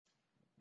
Thank you, Your Honor.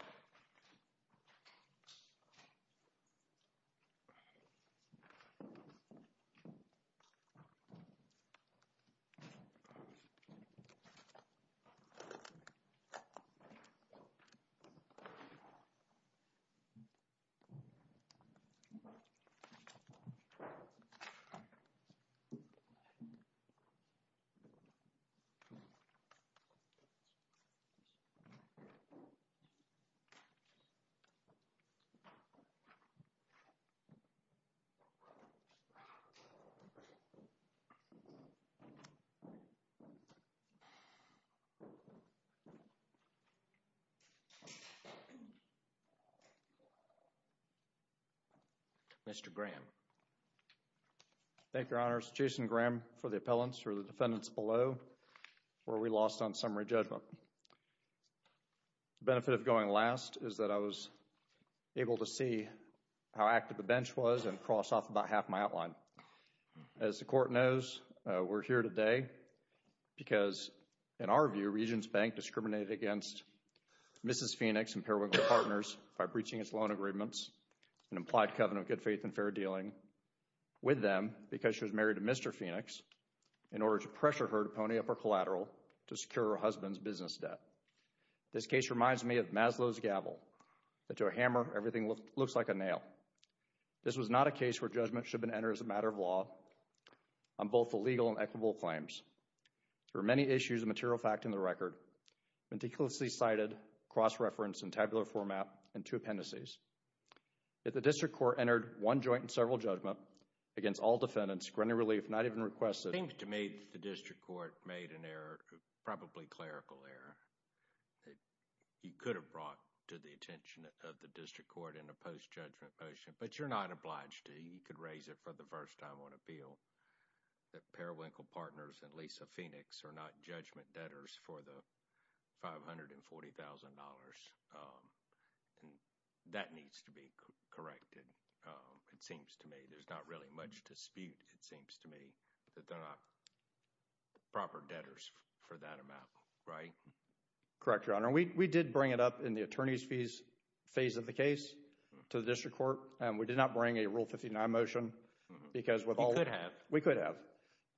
Mr. Graham. Thank you, Your Honor. It's Jason Graham for the appellants, for the defendants below, where we lost on summary judgment. The benefit of going last is that I was able to see how active the bench was and cross off about half my outline. As the court knows, we're here today because, in our view, Regents Bank discriminated against Mrs. Phoenix and Parawigle Partners by breaching its loan agreements and implied covenant of good faith and fair dealing with them because she was married to Mr. Phoenix in order to This case reminds me of Maslow's gavel, that to a hammer, everything looks like a nail. This was not a case where judgment should have been entered as a matter of law on both the legal and equitable claims. There were many issues of material fact in the record, meticulously cited, cross-referenced in tabular format, and two appendices. If the district court entered one joint and several judgment against all defendants, Grenier Relief not even requested— It seems to me the district court made an error, probably clerical error, that you could have brought to the attention of the district court in a post-judgment motion, but you're not obliged to. You could raise it for the first time on appeal that Parawigle Partners and Lisa Phoenix are not judgment debtors for the $540,000, and that needs to be corrected, it seems to me. There's not really much dispute, it seems to me, that they're not proper debtors for that amount, right? Correct, Your Honor. And we did bring it up in the attorney's fees phase of the case to the district court. We did not bring a Rule 59 motion because with all— You could have. We could have.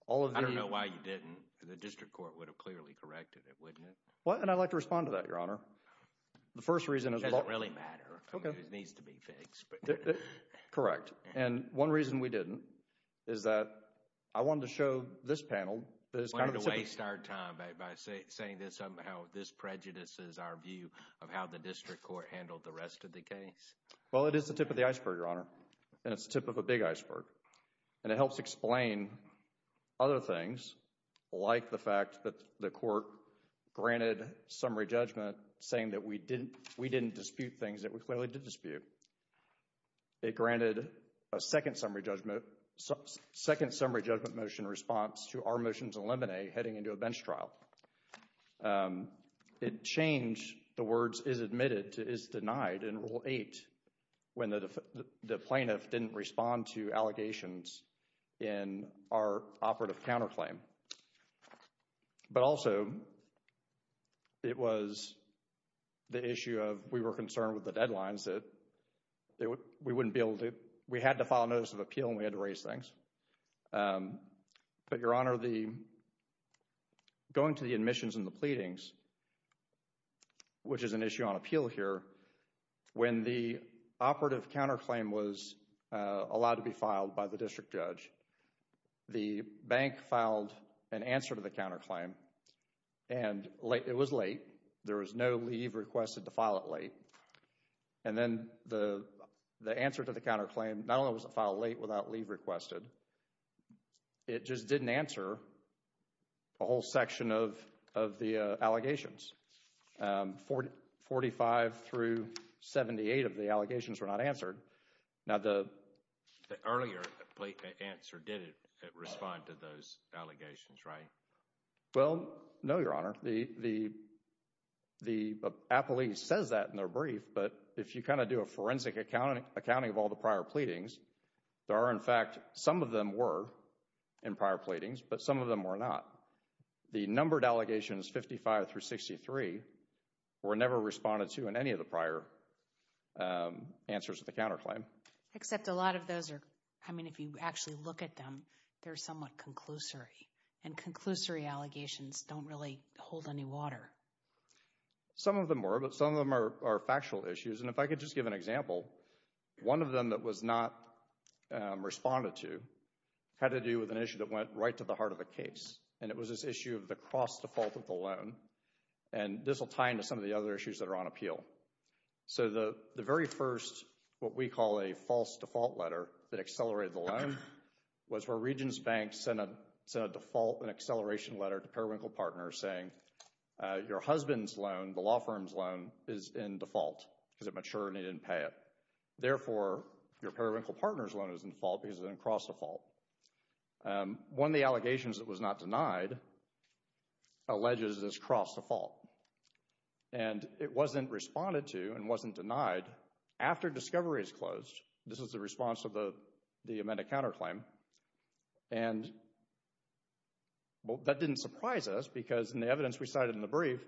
All of the— I don't know why you didn't. The district court would have clearly corrected it, wouldn't it? Well, and I'd like to respond to that, Your Honor. The first reason is— It doesn't really matter. It needs to be fixed. Correct. And one reason we didn't is that I wanted to show this panel that it's kind of a tip— Why waste our time by saying that somehow this prejudices our view of how the district court handled the rest of the case? Well, it is the tip of the iceberg, Your Honor, and it's the tip of a big iceberg. And it helps explain other things like the fact that the court granted summary judgment saying that we didn't dispute things that we clearly did dispute. It granted a second summary judgment— Second summary judgment motion response to our motions in Lemonade heading into a bench trial. It changed the words is admitted to is denied in Rule 8 when the plaintiff didn't respond to allegations in our operative counterclaim. But also, it was the issue of we were concerned with the deadlines that we wouldn't be able to— We had to file a notice of appeal and we had to raise things. But, Your Honor, going to the admissions and the pleadings, which is an issue on appeal here, when the operative counterclaim was allowed to be filed by the district judge, the bank filed an answer to the counterclaim and it was late. There was no leave requested to file it late. And then the answer to the counterclaim, not only was it filed late without leave requested, it just didn't answer a whole section of the allegations. Forty-five through seventy-eight of the allegations were not answered. Now, the— The earlier answer didn't respond to those allegations, right? Well, no, Your Honor. The appellee says that in their brief, but if you kind of do a forensic accounting of all the prior pleadings, there are, in fact, some of them were in prior pleadings, but some of them were not. The numbered allegations, fifty-five through sixty-three, were never responded to in any of the prior answers to the counterclaim. Except a lot of those are, I mean, if you actually look at them, they're somewhat conclusory, and conclusory allegations don't really hold any water. Some of them were, but some of them are factual issues, and if I could just give an example, one of them that was not responded to had to do with an issue that went right to the heart of the case, and it was this issue of the cross-default of the loan, and this will bind to some of the other issues that are on appeal. So the very first, what we call a false default letter that accelerated the loan, was where Regions Bank sent a default and acceleration letter to Perwinkle Partners saying, your husband's loan, the law firm's loan, is in default because it matured and he didn't pay it. Therefore, your Perwinkle Partners loan is in default because it's in cross-default. One of the allegations that was not denied alleges this cross-default, and it wasn't responded to and wasn't denied after discovery is closed. This is the response of the amended counterclaim, and that didn't surprise us because in the evidence we cited in the brief,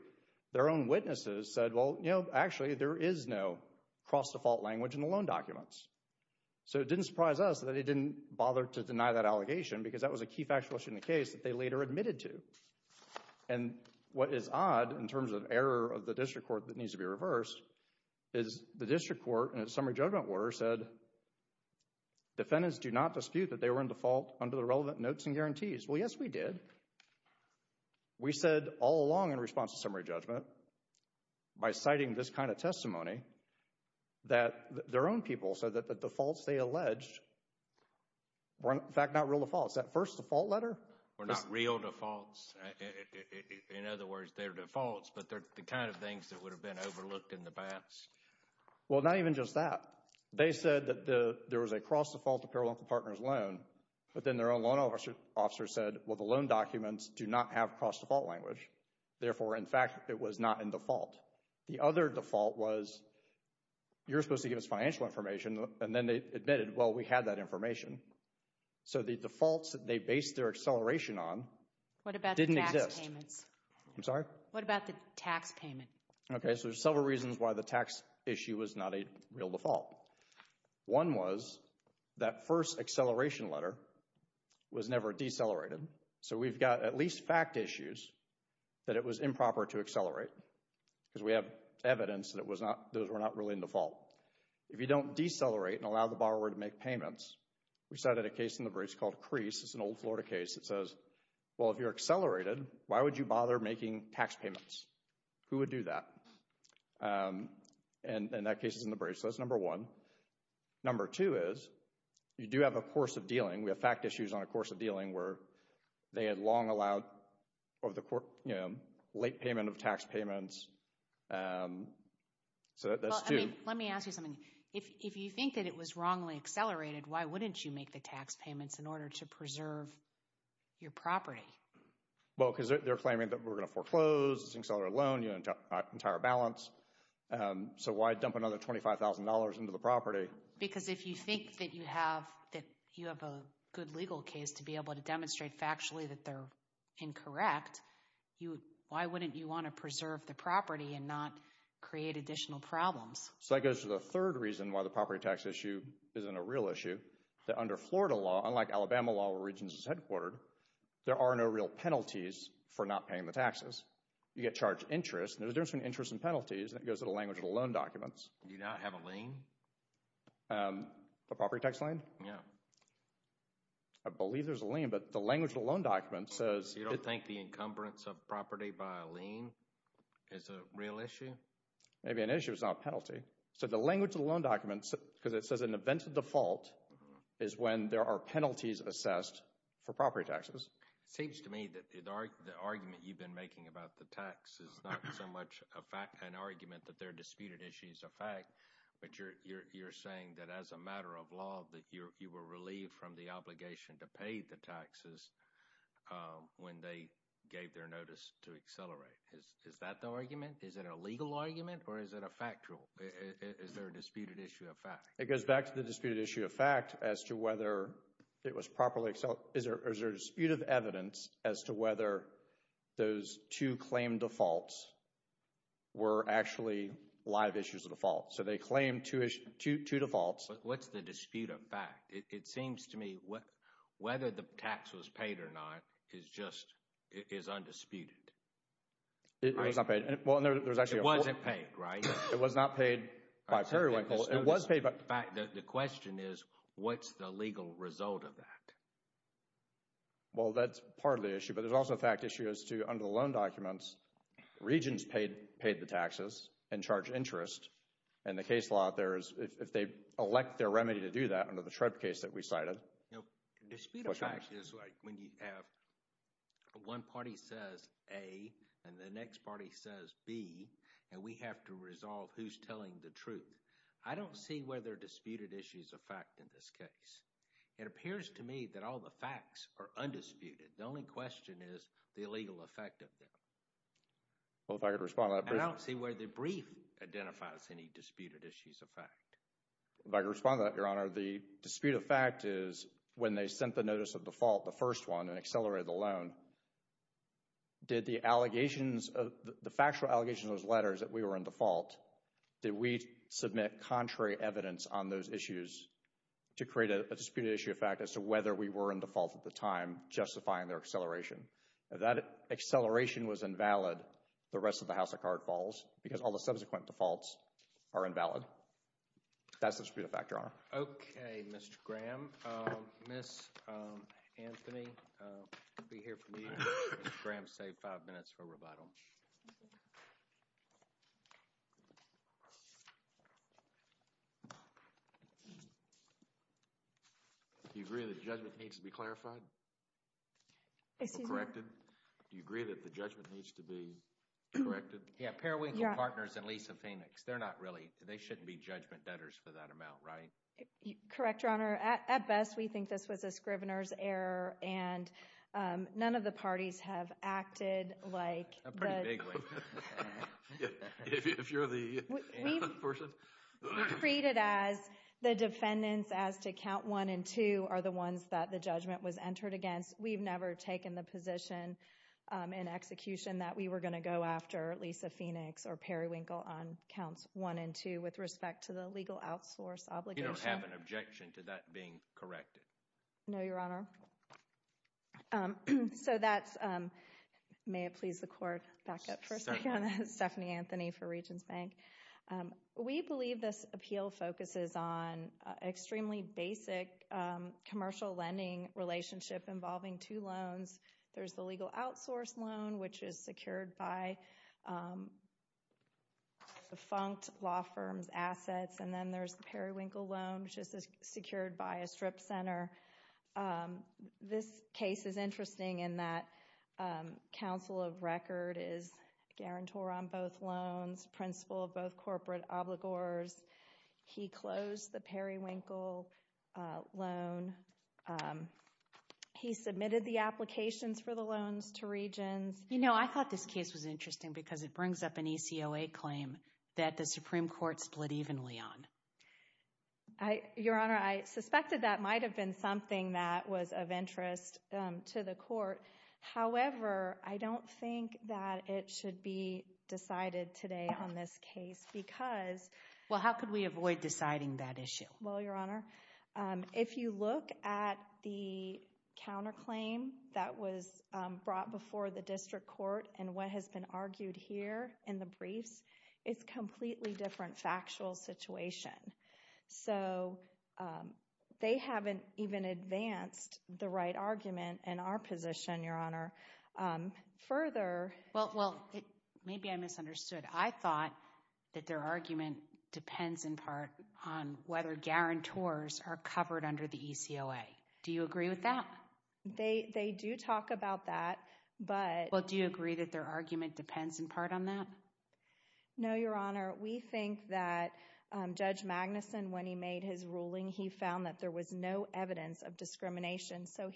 their own witnesses said, well, you know, actually there is no cross-default language in the loan documents. So it didn't surprise us that they didn't bother to deny that allegation because that was a key factual issue in the case that they later admitted to. And what is odd in terms of error of the district court that needs to be reversed is the district court in its summary judgment order said, defendants do not dispute that they were in default under the relevant notes and guarantees. Well, yes, we did. We said all along in response to summary judgment, by citing this kind of testimony, that their own people said that the defaults they alleged were, in fact, not real defaults. That first default letter? Were not real defaults. In other words, they're defaults, but they're the kind of things that would have been overlooked in the past. Well, not even just that. They said that there was a cross-default apparel local partners loan, but then their own loan officer said, well, the loan documents do not have cross-default language, therefore, in fact, it was not in default. The other default was, you're supposed to give us financial information, and then they admitted, well, we had that information. So the defaults that they based their acceleration on didn't exist. What about the tax payments? I'm sorry? What about the tax payment? Okay, so there's several reasons why the tax issue was not a real default. One was that first acceleration letter was never decelerated, so we've got at least fact issues that it was improper to accelerate because we have evidence that those were not really in default. If you don't decelerate and allow the borrower to make payments, we cited a case in the briefs called Crease. It's an old Florida case that says, well, if you're accelerated, why would you bother making tax payments? Who would do that? And that case is in the briefs. So that's number one. Number two is, you do have a course of dealing. We have fact issues on a course of dealing where they had long allowed late payment of tax payments. So that's two. Let me ask you something. If you think that it was wrongly accelerated, why wouldn't you make the tax payments in order to preserve your property? Well, because they're claiming that we're going to foreclose, it's an accelerated loan, you have an entire balance. So why dump another $25,000 into the property? Because if you think that you have a good legal case to be able to demonstrate factually that they're incorrect, why wouldn't you want to preserve the property and not create additional problems? So that goes to the third reason why the property tax issue isn't a real issue, that under Florida law, unlike Alabama law where Regents is headquartered, there are no real penalties for not paying the taxes. You get charged interest. There's a difference between interest and penalties, and that goes to the language of the loan documents. Do you not have a lien? A property tax lien? Yeah. I believe there's a lien, but the language of the loan documents says... You don't think the encumbrance of property by a lien is a real issue? Maybe an issue is not a penalty. So the language of the loan documents, because it says an event of default, is when there are penalties assessed for property taxes. It seems to me that the argument you've been making about the tax is not so much an argument that they're disputed issues of fact, but you're saying that as a matter of law, that you were relieved from the obligation to pay the taxes when they gave their notice to accelerate. Is that the argument? Is it a legal argument, or is it a factual? Is there a disputed issue of fact? It goes back to the disputed issue of fact as to whether it was properly... Is there a dispute of evidence as to whether those two claimed defaults were actually live issues of default? So they claimed two defaults. What's the dispute of fact? It seems to me whether the tax was paid or not is undisputed. It was not paid, and there was actually... It wasn't paid, right? It was not paid by Periwinkle. It was paid by... The dispute of fact... The question is, what's the legal result of that? Well, that's part of the issue, but there's also a fact issue as to, under the loan documents, Regents paid the taxes and charged interest, and the case law out there is if they elect their remedy to do that under the Shred case that we cited... No, dispute of fact is like when you have one party says A, and the next party says B, and we have to resolve who's telling the truth. I don't see where there are disputed issues of fact in this case. It appears to me that all the facts are undisputed. The only question is the legal effect of them. Well, if I could respond to that, but... I don't see where the brief identifies any disputed issues of fact. If I could respond to that, Your Honor, the dispute of fact is when they sent the notice of default, the first one, and accelerated the loan. Did the allegations of... The factual allegations of those letters that we were in default, did we submit contrary evidence on those issues to create a disputed issue of fact as to whether we were in default at the time, justifying their acceleration? If that acceleration was invalid, the rest of the house of cards falls because all the subsequent defaults are invalid. That's the dispute of fact, Your Honor. Okay, Mr. Graham. Ms. Anthony will be here for me. Ms. Graham, save five minutes for rebuttal. Do you agree that the judgment needs to be clarified? Excuse me? Corrected? Do you agree that the judgment needs to be corrected? Yeah, Parawinkle Partners and Lisa Phoenix, they're not really... They shouldn't be judgment debtors for that amount, right? Correct, Your Honor. At best, we think this was a scrivener's error, and none of the parties have acted like... Pretty vaguely. If you're the... We've treated as the defendants as to count one and two are the ones that the judgment was entered against. We've never taken the position in execution that we were going to go after Lisa Phoenix or Parawinkle on counts one and two with respect to the legal outsource obligation. You don't have an objection to that being corrected? No, Your Honor. So that's... May it please the court, back up for a second. Stephanie Anthony for Regions Bank. We believe this appeal focuses on extremely basic commercial lending relationship involving two loans. There's the legal outsource loan, which is secured by defunct law firms' assets, and then there's the Parawinkle loan, which is secured by a strip center. This case is interesting in that counsel of record is a guarantor on both loans, principal of both corporate obligors. He closed the Parawinkle loan. He submitted the applications for the loans to Regions. You know, I thought this case was interesting because it brings up an ECOA claim that the Supreme Court split evenly on. Your Honor, I suspected that might have been something that was of interest to the court. However, I don't think that it should be decided today on this case because... Well, how could we avoid deciding that issue? Well, Your Honor, if you look at the counterclaim that was brought before the district court and what has been argued here in the briefs, it's a completely different factual situation. So, they haven't even advanced the right argument in our position, Your Honor. Further... Well, maybe I misunderstood. I thought that their argument depends in part on whether guarantors are covered under the ECOA. Do you agree with that? They do talk about that, but... Well, do you agree that their argument depends in part on that? No, Your Honor. We think that Judge Magnuson, when he made his ruling, he found that there was no evidence of discrimination. So,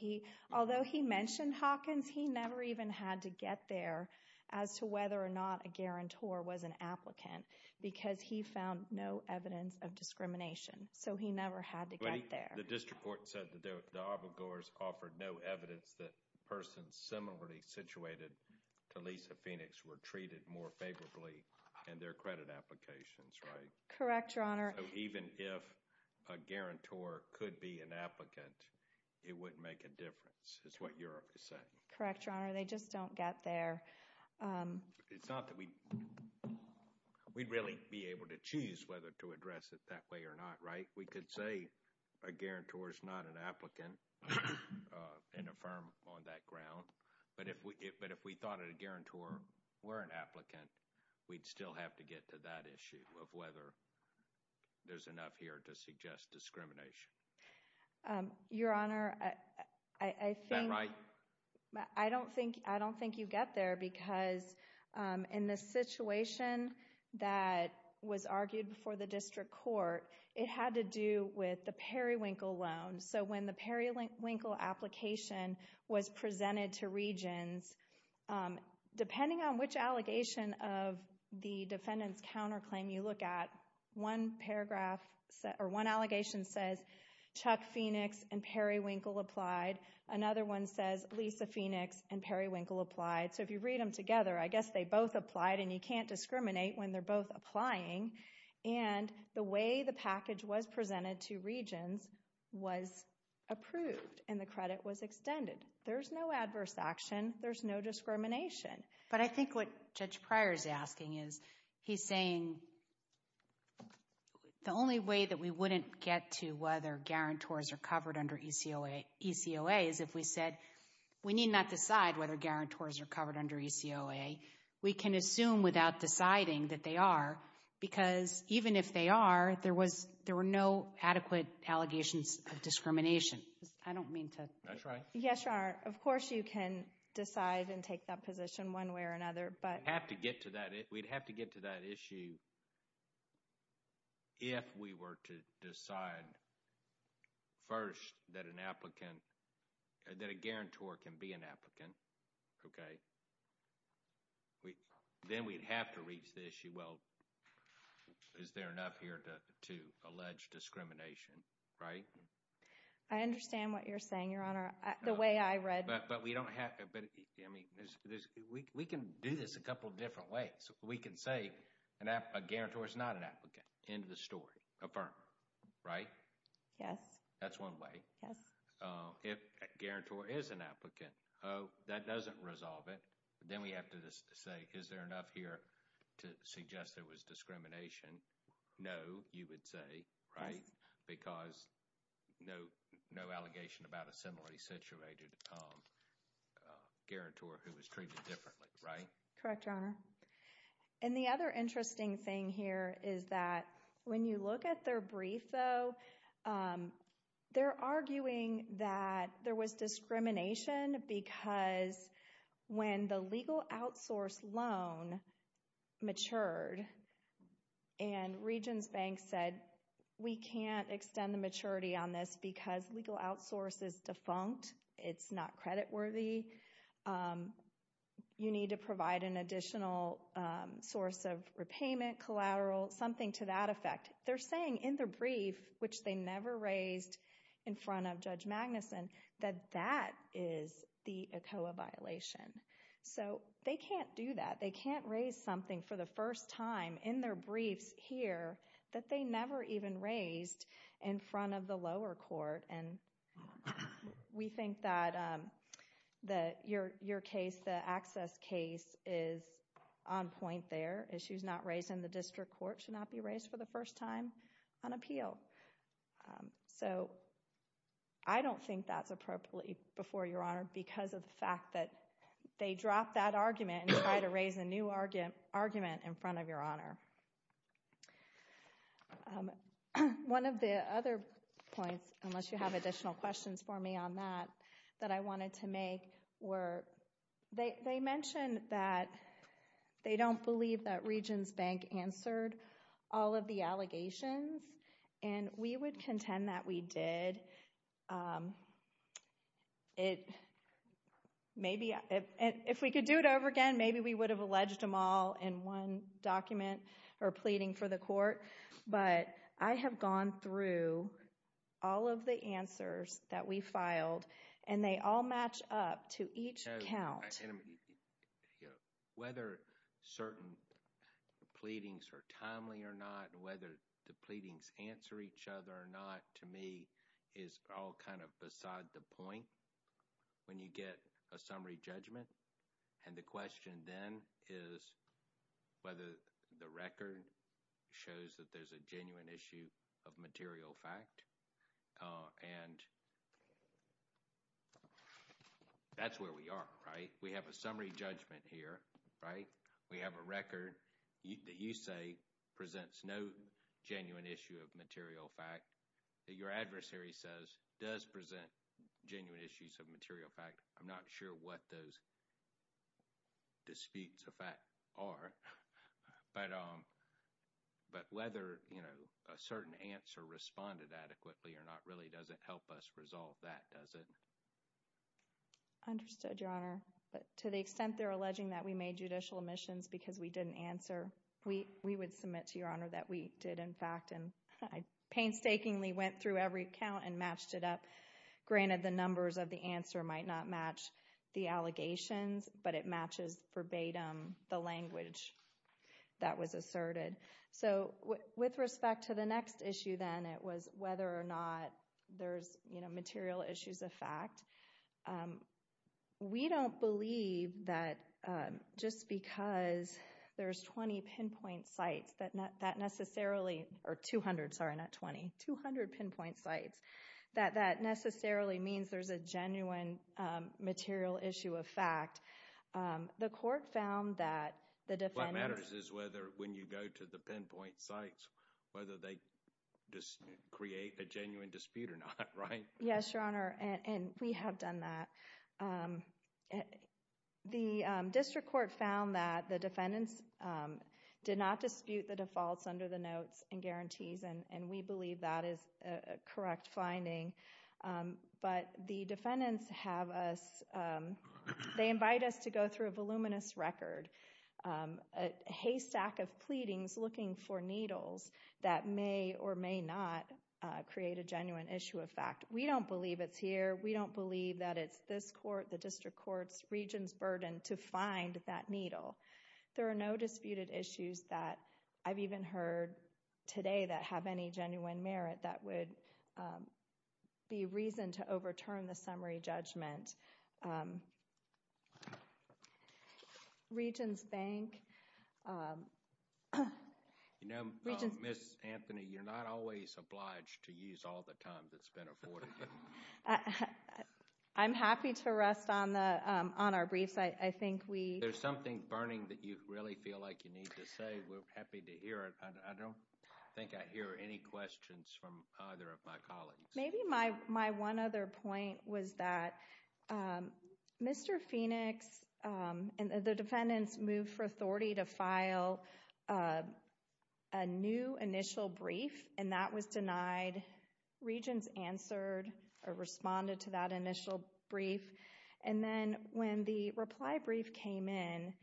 although he mentioned Hawkins, he never even had to get there as to whether or not a guarantor was an applicant because he found no evidence of discrimination. So, he never had to get there. But the district court said that the obligors offered no evidence that persons similarly situated to Lisa Phoenix were treated more favorably in their credit applications, right? Correct, Your Honor. So, even if a guarantor could be an applicant, it wouldn't make a difference, is what you're saying. Correct, Your Honor. They just don't get there. It's not that we'd really be able to choose whether to address it that way or not, right? We could say a guarantor is not an applicant in a firm on that ground. But if we thought a guarantor were an applicant, we'd still have to get to that issue of whether there's enough here to suggest discrimination. Your Honor, I think... Is that right? I don't think you get there because in the situation that was argued before the district court, it had to do with the Periwinkle loan. So, when the Periwinkle application was presented to Regions, depending on which allegation of the defendant's counterclaim you look at, one allegation says Chuck Phoenix and Periwinkle applied. Another one says Lisa Phoenix and Periwinkle applied. So, if you read them together, I guess they both applied, and you can't discriminate when they're both applying. And the way the package was presented to Regions was approved, and the credit was extended. There's no adverse action. There's no discrimination. But I think what Judge Pryor's asking is, he's saying the only way that we wouldn't get to whether we need not decide whether guarantors are covered under ECOA, we can assume without deciding that they are, because even if they are, there were no adequate allegations of discrimination. I don't mean to... That's right. Yes, Your Honor. Of course you can decide and take that position one way or another, but... We'd have to get to that issue if we were to decide first that an applicant that a guarantor can be an applicant, okay? Then we'd have to reach the issue, well, is there enough here to allege discrimination, right? I understand what you're saying, Your Honor. The way I read... But we don't have... I mean, we can do this a couple different ways. We can say a guarantor is not an applicant. End of the story. Affirm. Right? Yes. That's one way. Yes. If a guarantor is an applicant, oh, that doesn't resolve it. Then we have to say, is there enough here to suggest there was discrimination? No, you would say, right? Yes. Because no allegation about a similarly situated guarantor who was treated differently, right? Correct, Your Honor. And the other interesting thing here is that when you look at their brief, though, they're arguing that there was discrimination because when the legal outsource loan matured and Regions Bank said, we can't extend the maturity on this because legal outsource is defunct. It's not creditworthy. You need to provide an additional source of repayment, collateral, something to that effect. They're saying in their brief, which they never raised in front of Judge Magnuson, that that is the ECOA violation. So they can't do that. They can't raise something for the first time in their briefs here that they never even raised in front of the lower court. And we think that your case, the access case, is on point there. Issues not raised in the district court should not be raised for the first time on appeal. So I don't think that's appropriate before Your Honor because of the fact that they dropped that argument and tried to raise a new argument in front of Your Honor. One of the other points, unless you have additional questions for me on that, that I wanted to make were, they mentioned that they don't believe that Regions Bank answered all of the allegations. And we would contend that we did. If we could do it over again, maybe we would have alleged them all in one document or pleading for the court. But I have gone through all of the answers that we filed, and they all match up to each count. Whether certain pleadings are timely or not, whether the pleadings answer each other or not, to me is all kind of beside the point when you get a summary judgment. And the question then is whether the record shows that there's a genuine issue of material fact. And that's where we are, right? We have a summary judgment here, right? We have a record that you say presents no genuine issue of material fact. Your adversary says it does present genuine issues of material fact. I'm not sure what those disputes of fact are. But whether a certain answer responded adequately or not really doesn't help us resolve that, does it? Understood, Your Honor. But to the extent they're alleging that we made judicial omissions because we didn't answer, we would submit to Your Honor that we did, in fact. And I painstakingly went through every count and matched it up. Granted, the numbers of the answer might not match the allegations, but it matches verbatim the language that was asserted. So with respect to the next issue, then, it was whether or not there's material issues of fact. We don't believe that just because there's 20 pinpoint sites that necessarily – or 200, sorry, not 20 – 200 pinpoint sites that that necessarily means there's a genuine material issue of fact. The court found that the defendants – What matters is whether when you go to the pinpoint sites, whether they create a genuine dispute or not, right? Yes, Your Honor, and we have done that. The district court found that the defendants did not dispute the defaults under the notes and guarantees, and we believe that is a correct finding. But the defendants have us – they invite us to go through a voluminous record, a haystack of pleadings looking for needles that may or may not create a genuine issue of fact. We don't believe it's here. We don't believe that it's this court, the district court's, region's burden to find that needle. There are no disputed issues that I've even heard today that have any genuine merit that would be reason to overturn the summary judgment. Region's bank – You know, Ms. Anthony, you're not always obliged to use all the time that's been afforded. I'm happy to rest on our briefs. I think we – If there's something burning that you really feel like you need to say, we're happy to hear it. I don't think I hear any questions from either of my colleagues. Maybe my one other point was that Mr. Phoenix and the defendants moved for authority to file a new initial brief, and that was denied. Regions answered or responded to that initial brief. And then when the reply brief came in,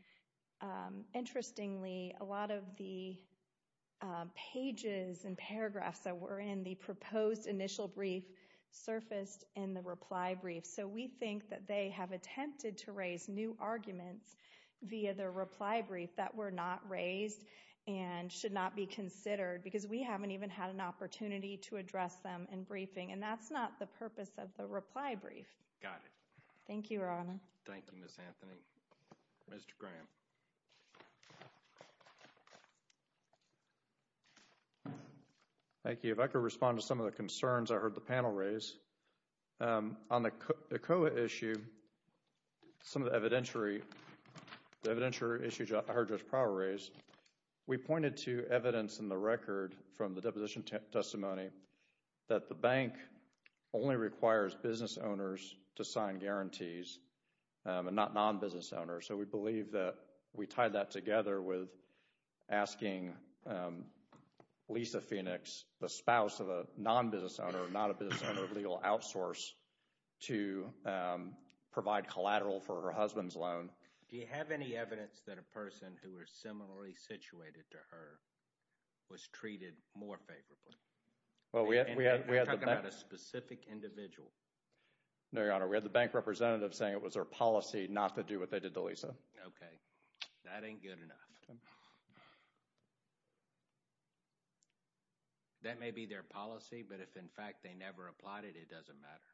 interestingly, a lot of the pages and paragraphs that were in the proposed initial brief surfaced in the reply brief. So we think that they have attempted to raise new arguments via the reply brief that were not raised and should not be considered because we haven't even had an opportunity to address them in briefing, and that's not the purpose of the reply brief. Got it. Thank you, Your Honor. Thank you, Ms. Anthony. Mr. Graham. Thank you. If I could respond to some of the concerns I heard the panel raise. On the ECOA issue, some of the evidentiary issues I heard Judge Prowell raise, we pointed to evidence in the record from the deposition testimony that the bank only requires business owners to sign guarantees and not non-business owners. So we believe that we tied that together with asking Lisa Phoenix, the spouse of a non-business owner, not a business owner of legal outsource, to provide collateral for her husband's loan. Do you have any evidence that a person who was similarly situated to her was treated more favorably? You're talking about a specific individual? No, Your Honor. We had the bank representative saying it was their policy not to do what they did to Lisa. Okay. That ain't good enough. That may be their policy, but if in fact they never applied it, it doesn't matter.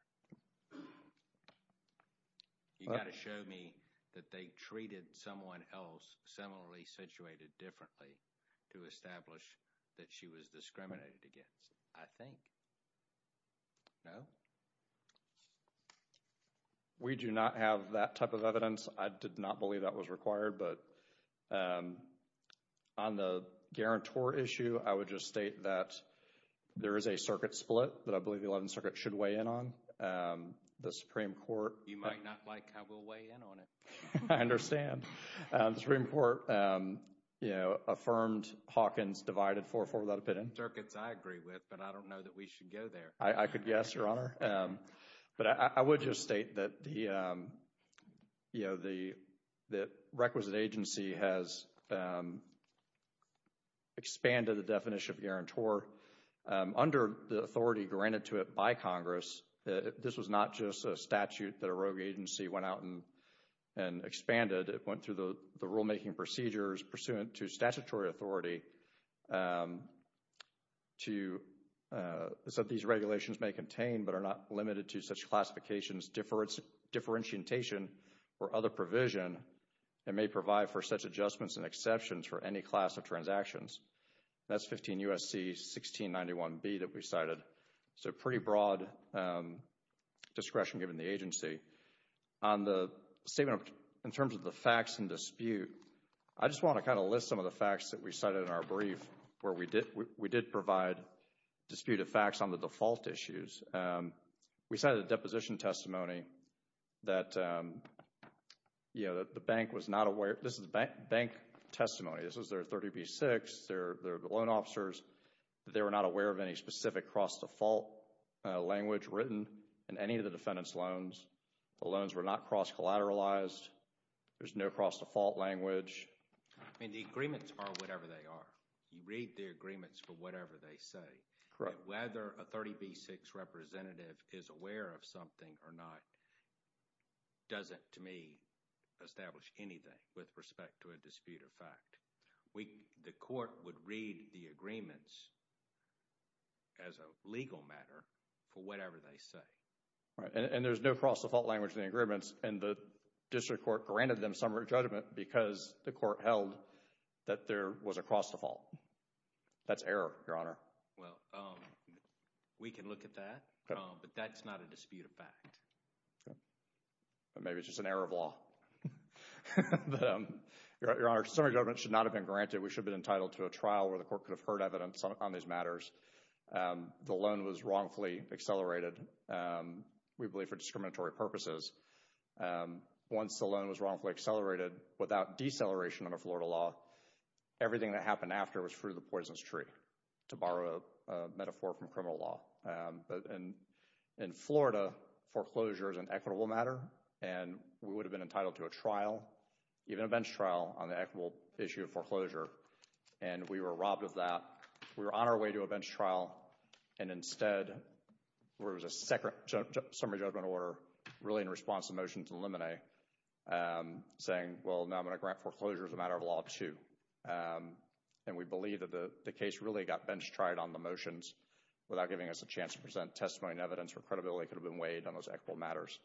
You've got to show me that they treated someone else similarly situated differently to establish that she was discriminated against, I think. No? We do not have that type of evidence. I did not believe that was required. But on the guarantor issue, I would just state that there is a circuit split that I believe the Eleventh Circuit should weigh in on. The Supreme Court... You might not like how we'll weigh in on it. I understand. The Supreme Court, you know, affirmed Hawkins divided 4-4 without a pit in. The circuits I agree with, but I don't know that we should go there. I could guess, Your Honor. But I would just state that the, you know, the requisite agency has expanded the definition of guarantor under the authority granted to it by Congress. This was not just a statute that a rogue agency went out and expanded. It went through the rulemaking procedures pursuant to statutory authority so these regulations may contain but are not limited to such classifications, differentiation, or other provision and may provide for such adjustments and exceptions for any class of transactions. That's 15 U.S.C. 1691B that we cited. So pretty broad discretion given the agency. On the statement in terms of the facts and dispute, I just want to kind of list some of the facts that we cited in our brief where we did provide disputed facts on the default issues. We cited a deposition testimony that, you know, the bank was not aware. This is bank testimony. This was their 30B-6. They're the loan officers. They were not aware of any specific cross-default language written in any of the defendant's loans. The loans were not cross-collateralized. There's no cross-default language. I mean, the agreements are whatever they are. You read the agreements for whatever they say. Whether a 30B-6 representative is aware of something or not doesn't, to me, establish anything with respect to a dispute of fact. The court would read the agreements as a legal matter for whatever they say. And there's no cross-default language in the agreements, and the district court granted them summary judgment because the court held that there was a cross-default. That's error, Your Honor. Well, we can look at that, but that's not a dispute of fact. Maybe it's just an error of law. Your Honor, summary judgment should not have been granted. We should have been entitled to a trial where the court could have heard evidence on these matters. The loan was wrongfully accelerated, we believe, for discriminatory purposes. Once the loan was wrongfully accelerated without deceleration under Florida law, everything that happened after was through the poison's tree, to borrow a metaphor from criminal law. In Florida, foreclosure is an equitable matter, and we would have been entitled to a trial, even a bench trial, on the equitable issue of foreclosure. And we were robbed of that. We were on our way to a bench trial, and instead there was a summary judgment order, really in response to the motions in Limine, saying, well, now I'm going to grant foreclosure as a matter of law, too. And we believe that the case really got bench-tried on the motions without giving us a chance to present testimony and evidence where credibility could have been weighed on those equitable matters.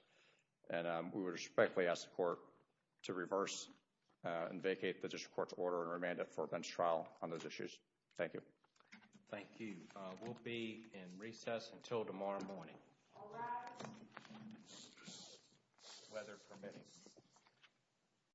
And we respectfully ask the court to reverse and vacate the district court's order and remand it for a bench trial on those issues. Thank you. Thank you. We'll be in recess until tomorrow morning. All rise. Weather permitting.